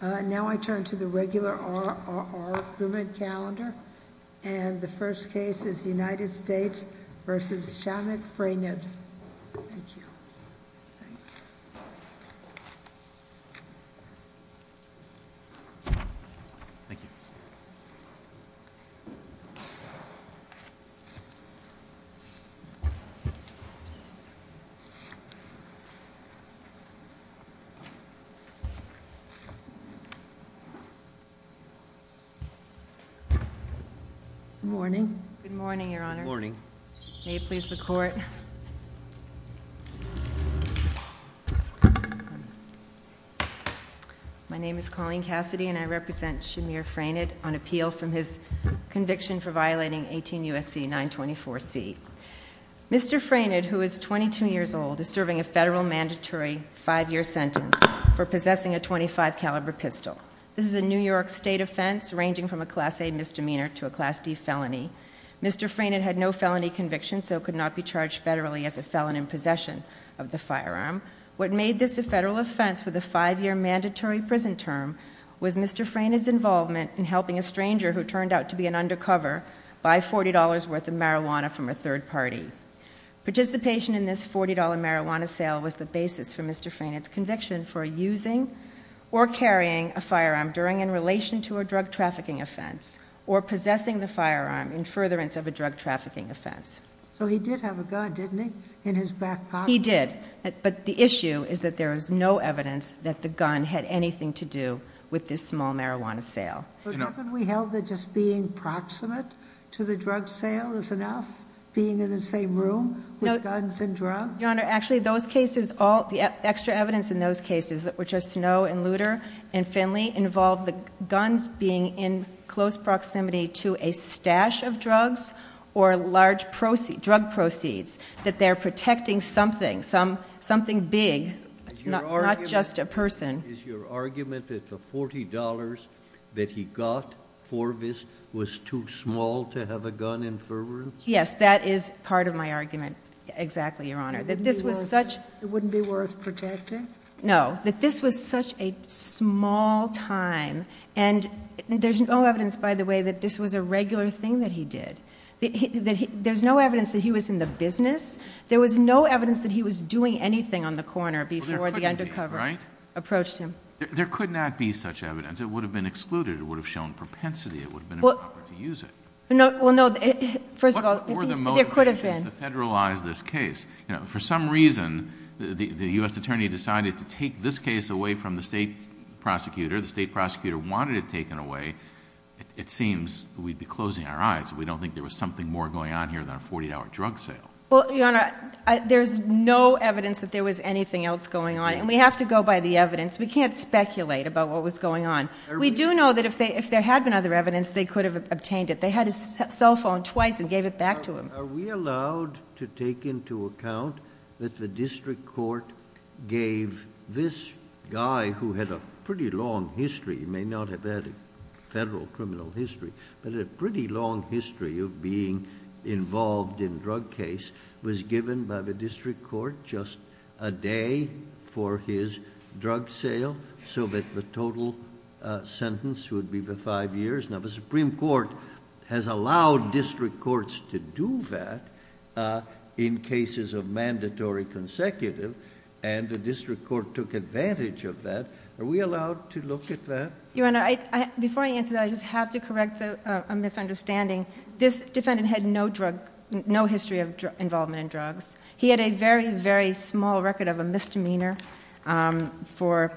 Now I turn to the regular RRR crewman calendar, and the first case is United States v. Shannon Fraynard. Thank you. Good morning, your honors. Good morning. May it please the court. My name is Colleen Cassidy, and I represent Shamir Fraynard on appeal from his conviction for violating 18 U.S.C. 924C. Mr. Fraynard, who is 22 years old, is serving a federal mandatory five-year sentence for possessing a .25 caliber pistol. This is a New York State offense ranging from a Class A misdemeanor to a Class D felony. Mr. Fraynard had no felony conviction, so could not be charged federally as a felon in possession of the firearm. What made this a federal offense with a five-year mandatory prison term was Mr. Fraynard's involvement in helping a stranger who turned out to be an undercover buy $40 worth of marijuana from a third party. Participation in this $40 marijuana sale was the basis for Mr. Fraynard's conviction for using or in furtherance of a drug trafficking offense. So he did have a gun, didn't he, in his back pocket? He did, but the issue is that there is no evidence that the gun had anything to do with this small marijuana sale. But haven't we held that just being proximate to the drug sale is enough? Being in the same room with guns and drugs? Your Honor, actually those cases, all the extra evidence in those cases, which are Snow and Luder and other drugs, or large drug proceeds, that they're protecting something, something big, not just a person. Is your argument that the $40 that he got for this was too small to have a gun in furtherance? Yes, that is part of my argument, exactly, Your Honor, that this was such- It wouldn't be worth protecting? No, that this was such a small time. And there's no evidence, by the way, that this was a regular thing that he did. There's no evidence that he was in the business. There was no evidence that he was doing anything on the corner before the undercover approached him. There could not be such evidence. It would have been excluded. It would have shown propensity. It would have been improper to use it. Well, no, first of all, there could have been. What were the motivations to federalize this case? For some reason, the US Attorney decided to take this case away from the state prosecutor. The state prosecutor wanted it taken away. It seems we'd be closing our eyes if we don't think there was something more going on here than a $40 drug sale. Well, Your Honor, there's no evidence that there was anything else going on. And we have to go by the evidence. We can't speculate about what was going on. We do know that if there had been other evidence, they could have obtained it. They had his cell phone twice and gave it back to him. Are we allowed to take into account that the district court gave this guy, who had a pretty long history. He may not have had a federal criminal history, but a pretty long history of being involved in drug case, was given by the district court just a day for his drug sale. So that the total sentence would be the five years. Now, the Supreme Court has allowed district courts to do that in cases of mandatory consecutive. And the district court took advantage of that. Are we allowed to look at that? Your Honor, before I answer that, I just have to correct a misunderstanding. This defendant had no history of involvement in drugs. He had a very, very small record of a misdemeanor for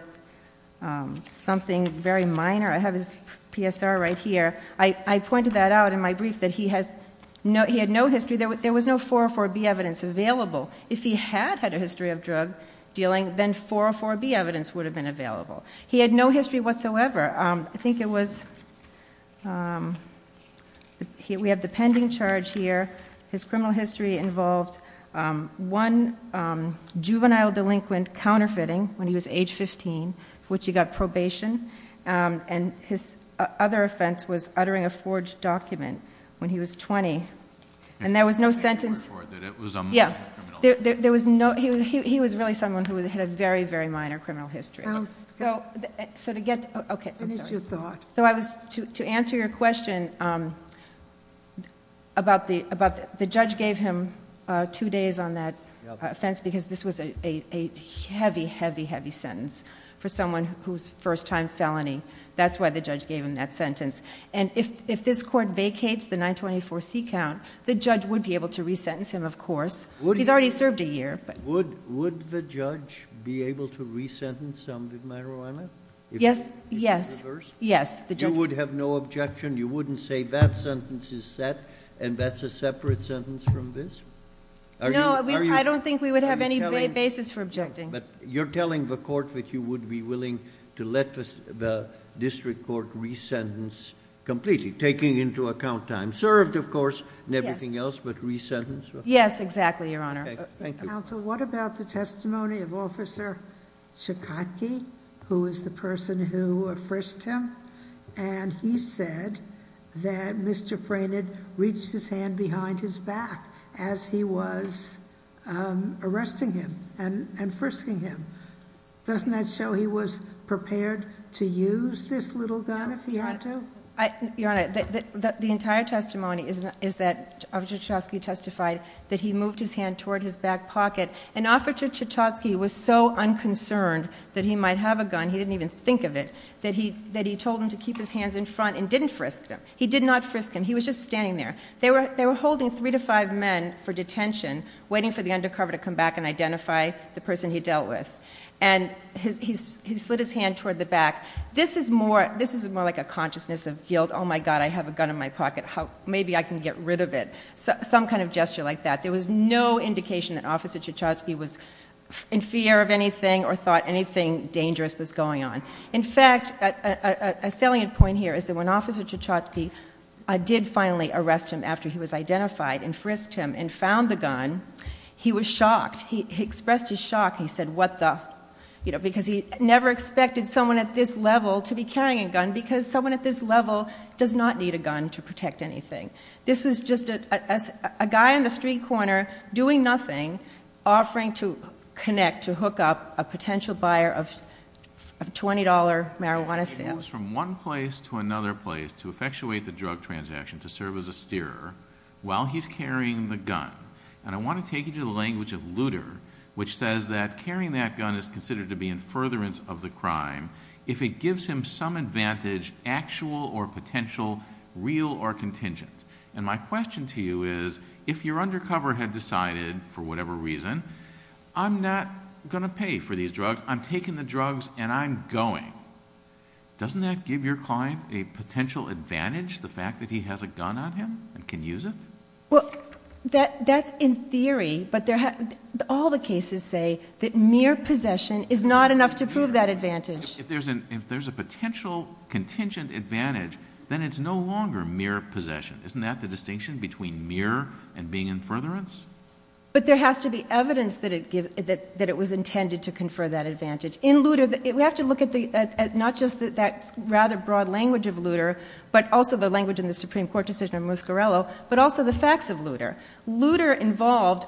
something very minor. I have his PSR right here. I pointed that out in my brief, that he had no history. There was no 404B evidence available. If he had had a history of drug dealing, then 404B evidence would have been available. He had no history whatsoever. I think it was, we have the pending charge here. His criminal history involved one juvenile delinquent counterfeiting, when he was age 15, for which he got probation. And his other offense was uttering a forged document when he was 20. And there was no sentence- He was really someone who had a very, very minor criminal history. So to get, okay, I'm sorry. So I was, to answer your question about the judge gave him two days on that offense because this was a heavy, heavy, heavy sentence for someone who's first time felony. That's why the judge gave him that sentence. And if this court vacates the 924C count, the judge would be able to re-sentence him, of course. He's already served a year, but- Would the judge be able to re-sentence someone with marijuana? Yes, yes, yes. The judge- You would have no objection? You wouldn't say that sentence is set, and that's a separate sentence from this? Are you- No, I don't think we would have any basis for objecting. But you're telling the court that you would be willing to let the district court re-sentence completely, taking into account time served, of course, and everything else, but re-sentence? Yes, exactly, Your Honor. Okay, thank you. Counsel, what about the testimony of Officer Shikaki, who was the person who frisked him? And he said that Mr. Fraynard reached his hand behind his back as he was arresting him and frisking him. Doesn't that show he was prepared to use this little gun if he had to? Your Honor, the entire testimony is that Officer Shikaki testified that he moved his hand toward his back pocket. And Officer Shikaki was so unconcerned that he might have a gun, he didn't even think of it, that he told him to keep his hands in front and didn't frisk him. He did not frisk him. He was just standing there. They were holding three to five men for detention, waiting for the undercover to come back and identify the person he dealt with. And he slid his hand toward the back. This is more like a consciousness of guilt. My God, I have a gun in my pocket. Maybe I can get rid of it, some kind of gesture like that. There was no indication that Officer Shikaki was in fear of anything or thought anything dangerous was going on. In fact, a salient point here is that when Officer Shikaki did finally arrest him after he was identified and frisked him and found the gun. He was shocked. He expressed his shock. He said, what the? Because he never expected someone at this level to be carrying a gun because someone at this level does not need a gun to protect anything. This was just a guy in the street corner doing nothing, offering to connect, to hook up a potential buyer of $20 marijuana sales. It was from one place to another place to effectuate the drug transaction to serve as a steerer while he's carrying the gun. And I want to take you to the language of Lutter, which says that carrying that gun is considered to be in furtherance of the crime if it gives him some advantage, actual or potential, real or contingent. And my question to you is, if your undercover had decided, for whatever reason, I'm not going to pay for these drugs. I'm taking the drugs and I'm going, doesn't that give your client a potential advantage, the fact that he has a gun on him and can use it? Well, that's in theory, but all the cases say that mere possession is not enough to prove that advantage. If there's a potential contingent advantage, then it's no longer mere possession. Isn't that the distinction between mere and being in furtherance? But there has to be evidence that it was intended to confer that advantage. In Lutter, we have to look at not just that rather broad language of Lutter, but also the language in the Supreme Court decision of Muscarello, but also the facts of Lutter. Lutter involved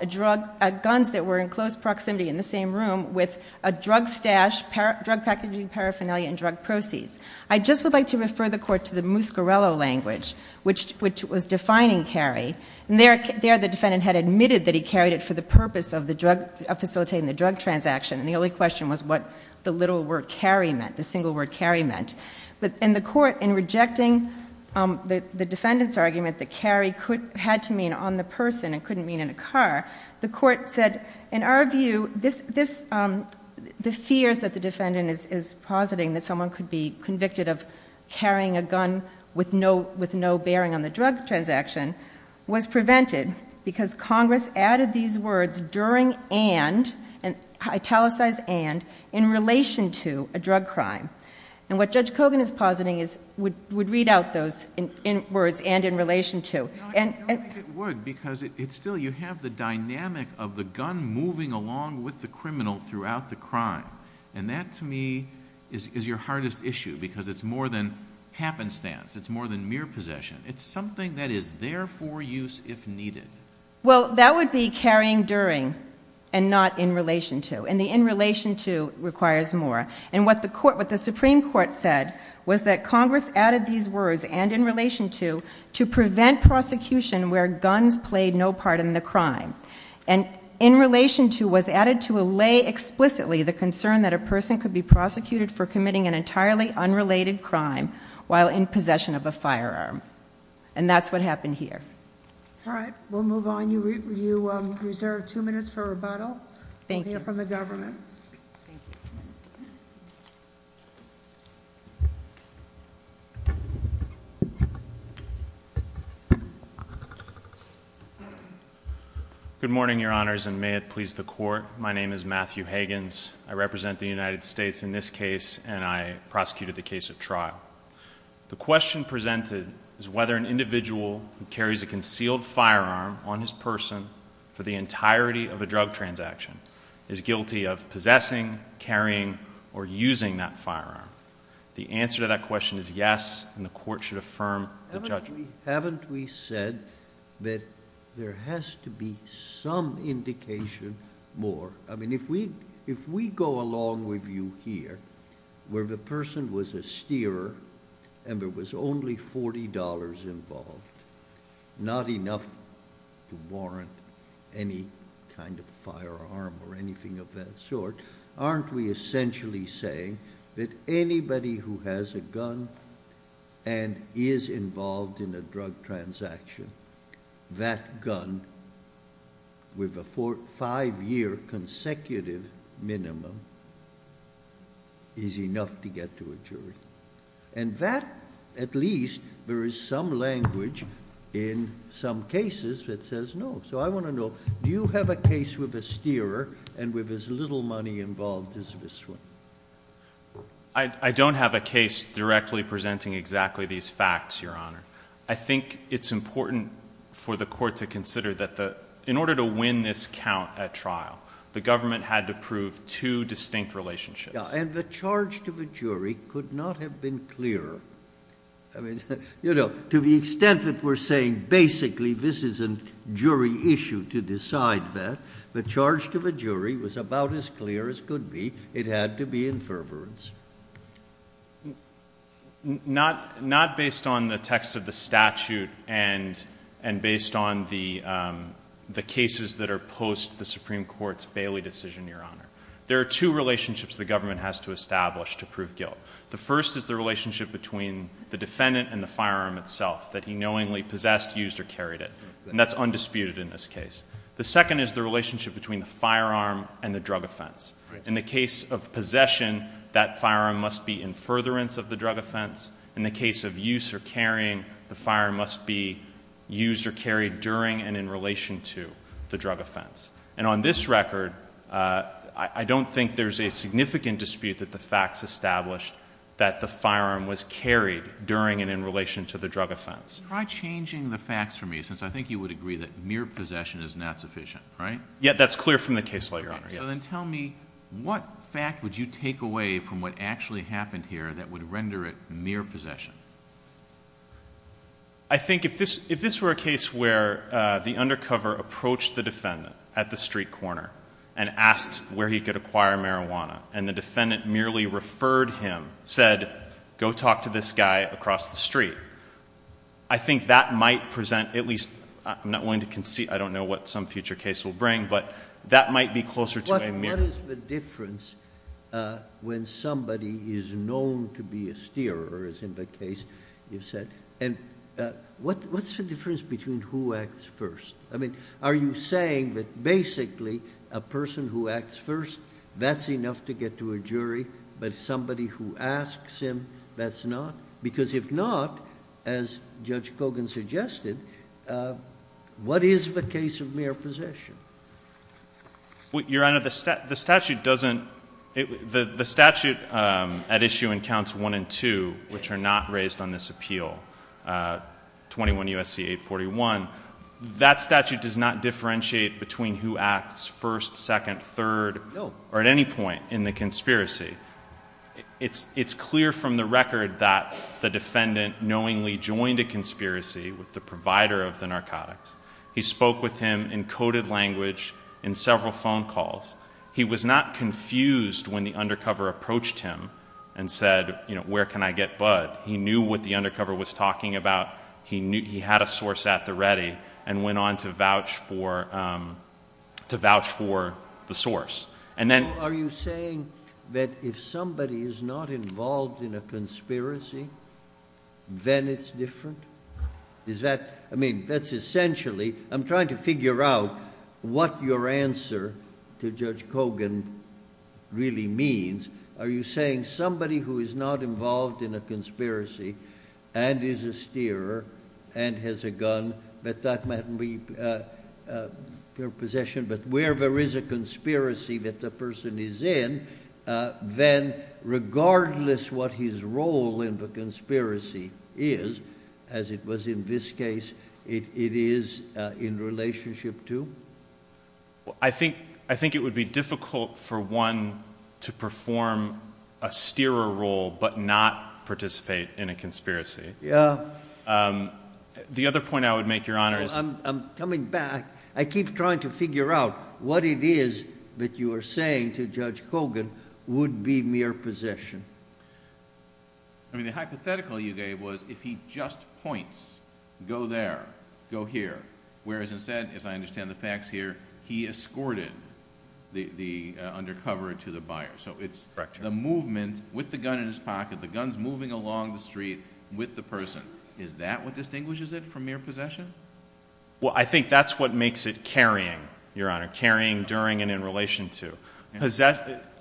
guns that were in close proximity in the same room with a drug stash, drug packaging, paraphernalia, and drug proceeds. I just would like to refer the court to the Muscarello language, which was defining carry. There the defendant had admitted that he carried it for the purpose of facilitating the drug transaction. And the only question was what the little word carry meant, the single word carry meant. But in the court, in rejecting the defendant's argument that carry had to mean on the person, it couldn't mean in a car. The court said, in our view, the fears that the defendant is positing, that someone could be convicted of carrying a gun with no bearing on the drug transaction, was prevented because Congress added these words during and, italicized and, in relation to a drug crime. And what Judge Kogan is positing is, would read out those words, and in relation to. And- I don't think it would, because it's still, you have the dynamic of the gun moving along with the criminal throughout the crime. And that, to me, is your hardest issue, because it's more than happenstance. It's more than mere possession. It's something that is there for use if needed. Well, that would be carrying during, and not in relation to. And the in relation to requires more. And what the Supreme Court said was that Congress added these words, and in relation to, to prevent prosecution where guns played no part in the crime. And in relation to was added to allay explicitly the concern that a person could be prosecuted for committing an entirely unrelated crime while in possession of a firearm. And that's what happened here. All right, we'll move on. You reserve two minutes for rebuttal. Thank you. From the government. Good morning, your honors, and may it please the court. My name is Matthew Higgins. I represent the United States in this case, and I prosecuted the case at trial. The question presented is whether an individual who carries a concealed firearm on his person for the entirety of a drug transaction is guilty of possessing, carrying, or using that firearm. The answer to that question is yes, and the court should affirm the judgment. Haven't we said that there has to be some indication more? I mean, if we go along with you here, where the person was a steerer and there was only $40 involved, not enough to warrant any kind of firearm or anything of that sort. Aren't we essentially saying that anybody who has a gun and is involved in a drug transaction, that gun, with a five year consecutive minimum, is enough to get to a jury. And that, at least, there is some language in some cases that says no. So I want to know, do you have a case with a steerer and with as little money involved as this one? I don't have a case directly presenting exactly these facts, your honor. I think it's important for the court to consider that in order to win this count at trial, the government had to prove two distinct relationships. Yeah, and the charge to the jury could not have been clearer. I mean, to the extent that we're saying, basically, this is a jury issue to decide that. The charge to the jury was about as clear as could be. It had to be in fervorance. Not based on the text of the statute and based on the cases that are post the Supreme Court's Bailey decision, your honor. There are two relationships the government has to establish to prove guilt. The first is the relationship between the defendant and the firearm itself, that he knowingly possessed, used, or carried it. And that's undisputed in this case. The second is the relationship between the firearm and the drug offense. In the case of possession, that firearm must be in furtherance of the drug offense. In the case of use or carrying, the firearm must be used or carried during and in relation to the drug offense. And on this record, I don't think there's a significant dispute that the facts established that the firearm was carried during and in relation to the drug offense. Try changing the facts for me, since I think you would agree that mere possession is not sufficient, right? Yeah, that's clear from the case law, your honor, yes. So then tell me, what fact would you take away from what actually happened here that would render it mere possession? I think if this were a case where the undercover approached the defendant at the street corner and asked where he could acquire marijuana, and the defendant merely referred him, said, go talk to this guy across the street, I think that might present, at least, I'm not willing to concede, I don't know what some future case will bring, but that might be closer to a mere- Case, you've said, and what's the difference between who acts first? I mean, are you saying that basically, a person who acts first, that's enough to get to a jury, but somebody who asks him, that's not? Because if not, as Judge Cogan suggested, what is the case of mere possession? Your honor, the statute doesn't, the statute at issue in counts one and two, which are not raised on this appeal, 21 U.S.C. 841, that statute does not differentiate between who acts first, second, third, or at any point in the conspiracy. It's clear from the record that the defendant knowingly joined a conspiracy with the provider of the narcotics. He spoke with him in coded language, in several phone calls. He was not confused when the undercover approached him and said, where can I get Bud? He knew what the undercover was talking about. He had a source at the ready, and went on to vouch for the source. And then- Are you saying that if somebody is not involved in a conspiracy, then it's different? Is that, I mean, that's essentially, I'm trying to figure out what your answer to Judge Cogan really means. Are you saying somebody who is not involved in a conspiracy, and is a steerer, and has a gun, but that might be pure possession, but where there is a conspiracy that the person is in, then regardless what his role in the conspiracy is, as it was in this case, it is in relationship to? I think it would be difficult for one to perform a steerer role, but not participate in a conspiracy. Yeah. The other point I would make, Your Honor, is- I'm coming back. I keep trying to figure out what it is that you are saying to Judge Cogan would be mere possession. I mean, the hypothetical you gave was if he just points, go there, go here. Whereas instead, as I understand the facts here, he escorted the undercover to the buyer. So it's the movement with the gun in his pocket, the guns moving along the street with the person. Is that what distinguishes it from mere possession? Well, I think that's what makes it carrying, Your Honor, carrying during and in relation to.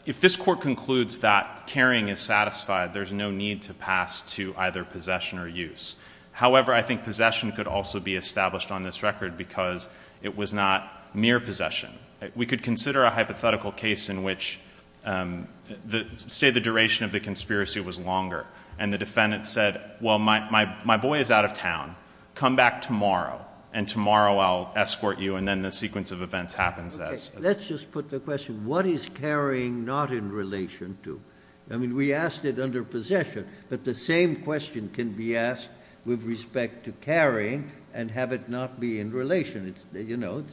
If this court concludes that carrying is satisfied, there's no need to pass to either possession or use. However, I think possession could also be established on this record because it was not mere possession. We could consider a hypothetical case in which, say the duration of the conspiracy was longer. And the defendant said, well, my boy is out of town. Come back tomorrow, and tomorrow I'll escort you, and then the sequence of events happens as- Let's just put the question, what is carrying not in relation to? I mean, we asked it under possession, but the same question can be asked with respect to carrying and have it not be in relation. It's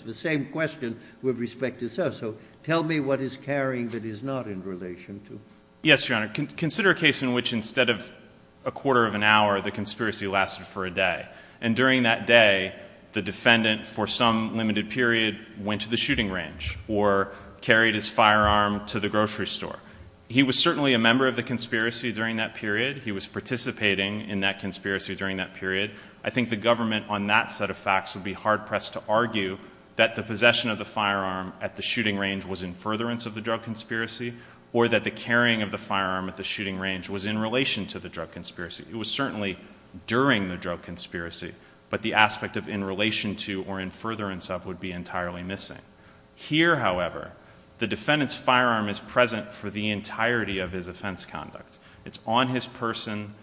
the same question with respect to self. So tell me what is carrying that is not in relation to? Yes, Your Honor, consider a case in which instead of a quarter of an hour, the conspiracy lasted for a day. And during that day, the defendant for some limited period went to the shooting range or carried his firearm to the grocery store. He was certainly a member of the conspiracy during that period. He was participating in that conspiracy during that period. I think the government on that set of facts would be hard pressed to argue that the possession of the firearm at the shooting range was in furtherance of the drug conspiracy. Or that the carrying of the firearm at the shooting range was in relation to the drug conspiracy. It was certainly during the drug conspiracy, but the aspect of in relation to or in furtherance of would be entirely missing. Here, however, the defendant's firearm is present for the entirety of his offense conduct. It's on his person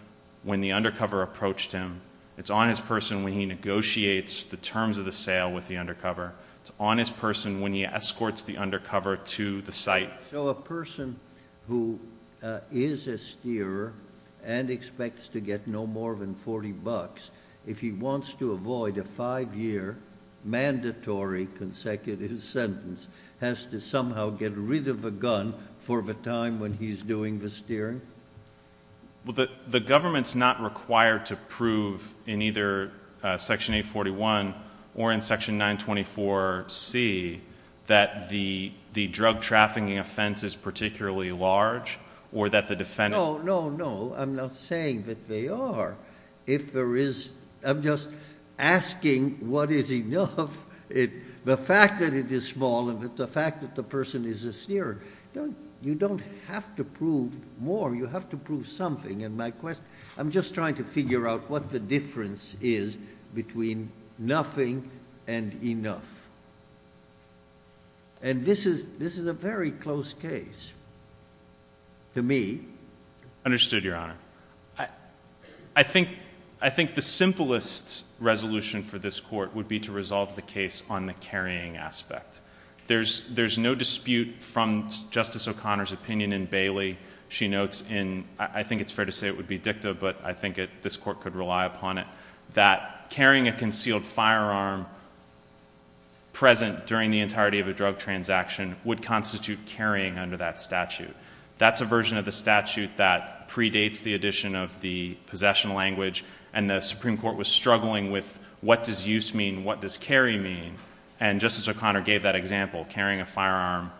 when the undercover approached him. It's on his person when he negotiates the terms of the sale with the undercover. It's on his person when he escorts the undercover to the site. So a person who is a steerer and expects to get no more than 40 bucks, if he wants to avoid a five year mandatory consecutive sentence, has to somehow get rid of a gun for the time when he's doing the steering? Well, the government's not required to prove in either section 841 or in section 924C that the drug trafficking offense is particularly large, or that the defendant- No, no, no, I'm not saying that they are. If there is, I'm just asking what is enough, the fact that it is small and the fact that the person is a steerer. You don't have to prove more, you have to prove something. And my question, I'm just trying to figure out what the difference is between nothing and enough. And this is a very close case to me. Understood, Your Honor. I think the simplest resolution for this court would be to resolve the case on the carrying aspect. There's no dispute from Justice O'Connor's opinion in Bailey. She notes in, I think it's fair to say it would be dicta, but I think this court could rely upon it. That carrying a concealed firearm present during the entirety of a drug transaction would constitute carrying under that statute. That's a version of the statute that predates the addition of the possession language. And the Supreme Court was struggling with what does use mean, what does carry mean? And Justice O'Connor gave that example, carrying a firearm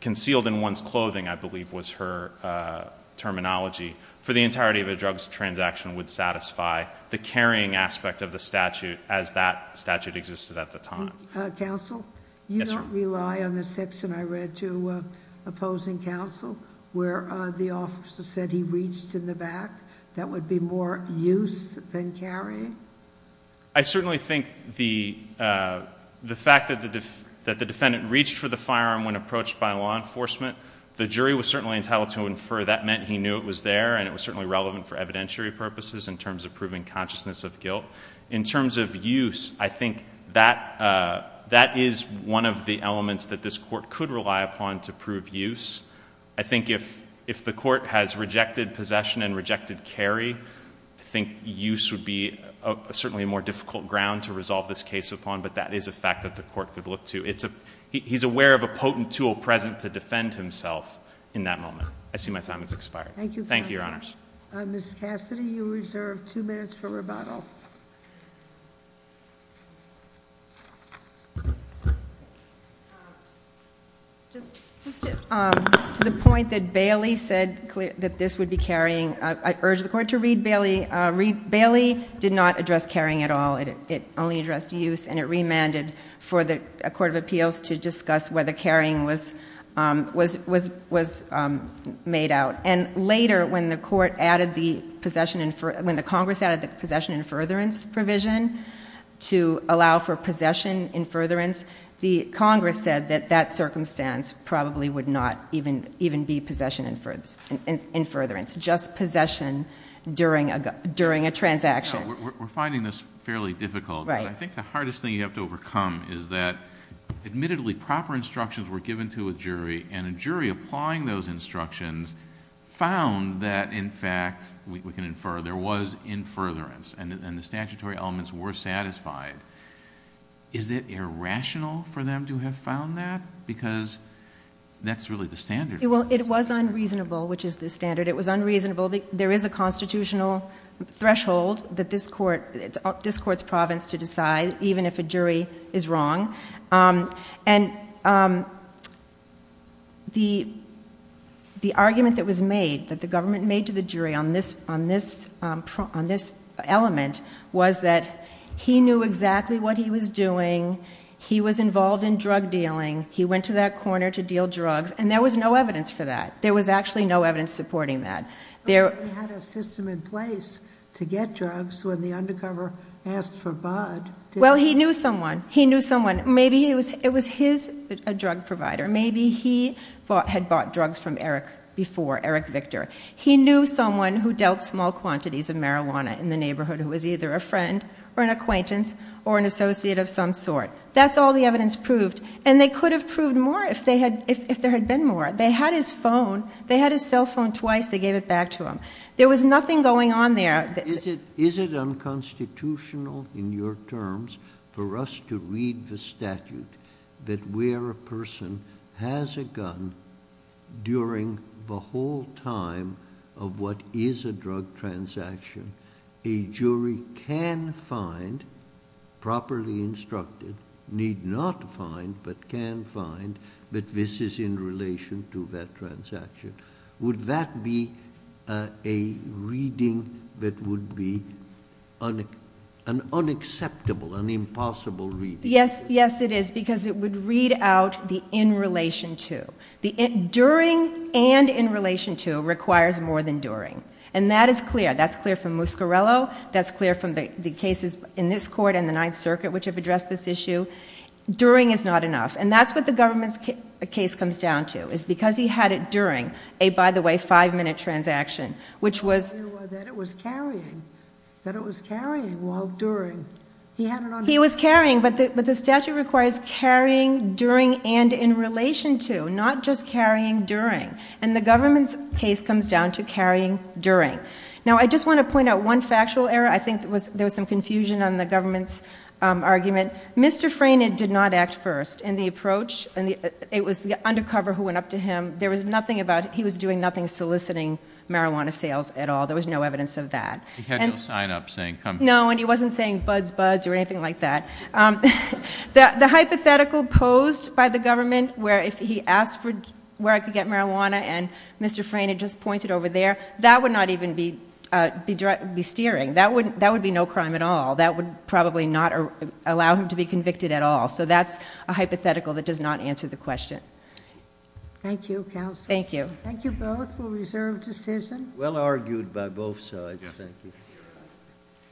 concealed in one's clothing, I believe, was her terminology. For the entirety of a drug transaction would satisfy the carrying aspect of the statute as that statute existed at the time. Counsel? Yes, Your Honor. You don't rely on the section I read to opposing counsel where the officer said he reached in the back? That would be more use than carrying? I certainly think the fact that the defendant reached for the firearm when approached by law enforcement. The jury was certainly entitled to infer that meant he knew it was there and it was certainly relevant for evidentiary purposes in terms of proving consciousness of guilt. In terms of use, I think that is one of the elements that this court could rely upon to prove use. I think if the court has rejected possession and rejected carry, I think use would be certainly a more difficult ground to resolve this case upon, but that is a fact that the court could look to. He's aware of a potent tool present to defend himself in that moment. I see my time has expired. Thank you, Your Honors. Ms. Cassidy, you're reserved two minutes for rebuttal. Just to the point that Bailey said that this would be carrying. I urge the court to read Bailey. Bailey did not address carrying at all. It only addressed use and it remanded for the court of appeals to discuss whether carrying was made out. And later, when the Congress added the possession and furtherance provision to allow for possession and furtherance, the Congress said that that circumstance probably would not even be possession and furtherance, just possession during a transaction. We're finding this fairly difficult. But I think the hardest thing you have to overcome is that, admittedly, proper instructions were given to a jury. And a jury applying those instructions found that, in fact, we can infer, there was in furtherance, and the statutory elements were satisfied. Is it irrational for them to have found that? Because that's really the standard. Well, it was unreasonable, which is the standard. It was unreasonable, but there is a constitutional threshold that this court's province to decide, even if a jury is wrong. And the argument that was made, that the government made to the jury on this element, was that he knew exactly what he was doing, he was involved in drug dealing, he went to that corner to deal drugs, and there was no evidence for that. There was actually no evidence supporting that. There- He had a system in place to get drugs when the undercover asked for bud. Well, he knew someone. He knew someone. Maybe it was his drug provider. Maybe he had bought drugs from Eric before, Eric Victor. He knew someone who dealt small quantities of marijuana in the neighborhood who was either a friend or an acquaintance or an associate of some sort. That's all the evidence proved. And they could have proved more if there had been more. They had his phone, they had his cell phone twice, they gave it back to him. There was nothing going on there. Is it unconstitutional in your terms for us to read the statute that where a person has a gun during the whole time of what is a drug transaction, a jury can find, properly instructed, need not find but can find that this is in relation to that transaction? Would that be a reading that would be an unacceptable, an impossible reading? Yes, yes it is, because it would read out the in relation to. The during and in relation to requires more than during. And that is clear. That's clear from Muscarello. That's clear from the cases in this court and the Ninth Circuit which have addressed this issue. During is not enough. And that's what the government's case comes down to, is because he had it during a, by the way, five minute transaction, which was- That it was carrying, that it was carrying while during. He had it on- He was carrying, but the statute requires carrying during and in relation to, not just carrying during. And the government's case comes down to carrying during. Now, I just want to point out one factual error. I think there was some confusion on the government's argument. Mr. Franit did not act first in the approach. And it was the undercover who went up to him. There was nothing about, he was doing nothing soliciting marijuana sales at all. There was no evidence of that. And- He had no sign up saying come- No, and he wasn't saying buds, buds, or anything like that. The hypothetical posed by the government where if he asked for where I could get marijuana and Mr. Franit just pointed over there, that would not even be steering. That would be no crime at all. That would probably not allow him to be convicted at all. So that's a hypothetical that does not answer the question. Thank you, counsel. Thank you. Thank you both. We'll reserve decision. Well argued by both sides. Thank you.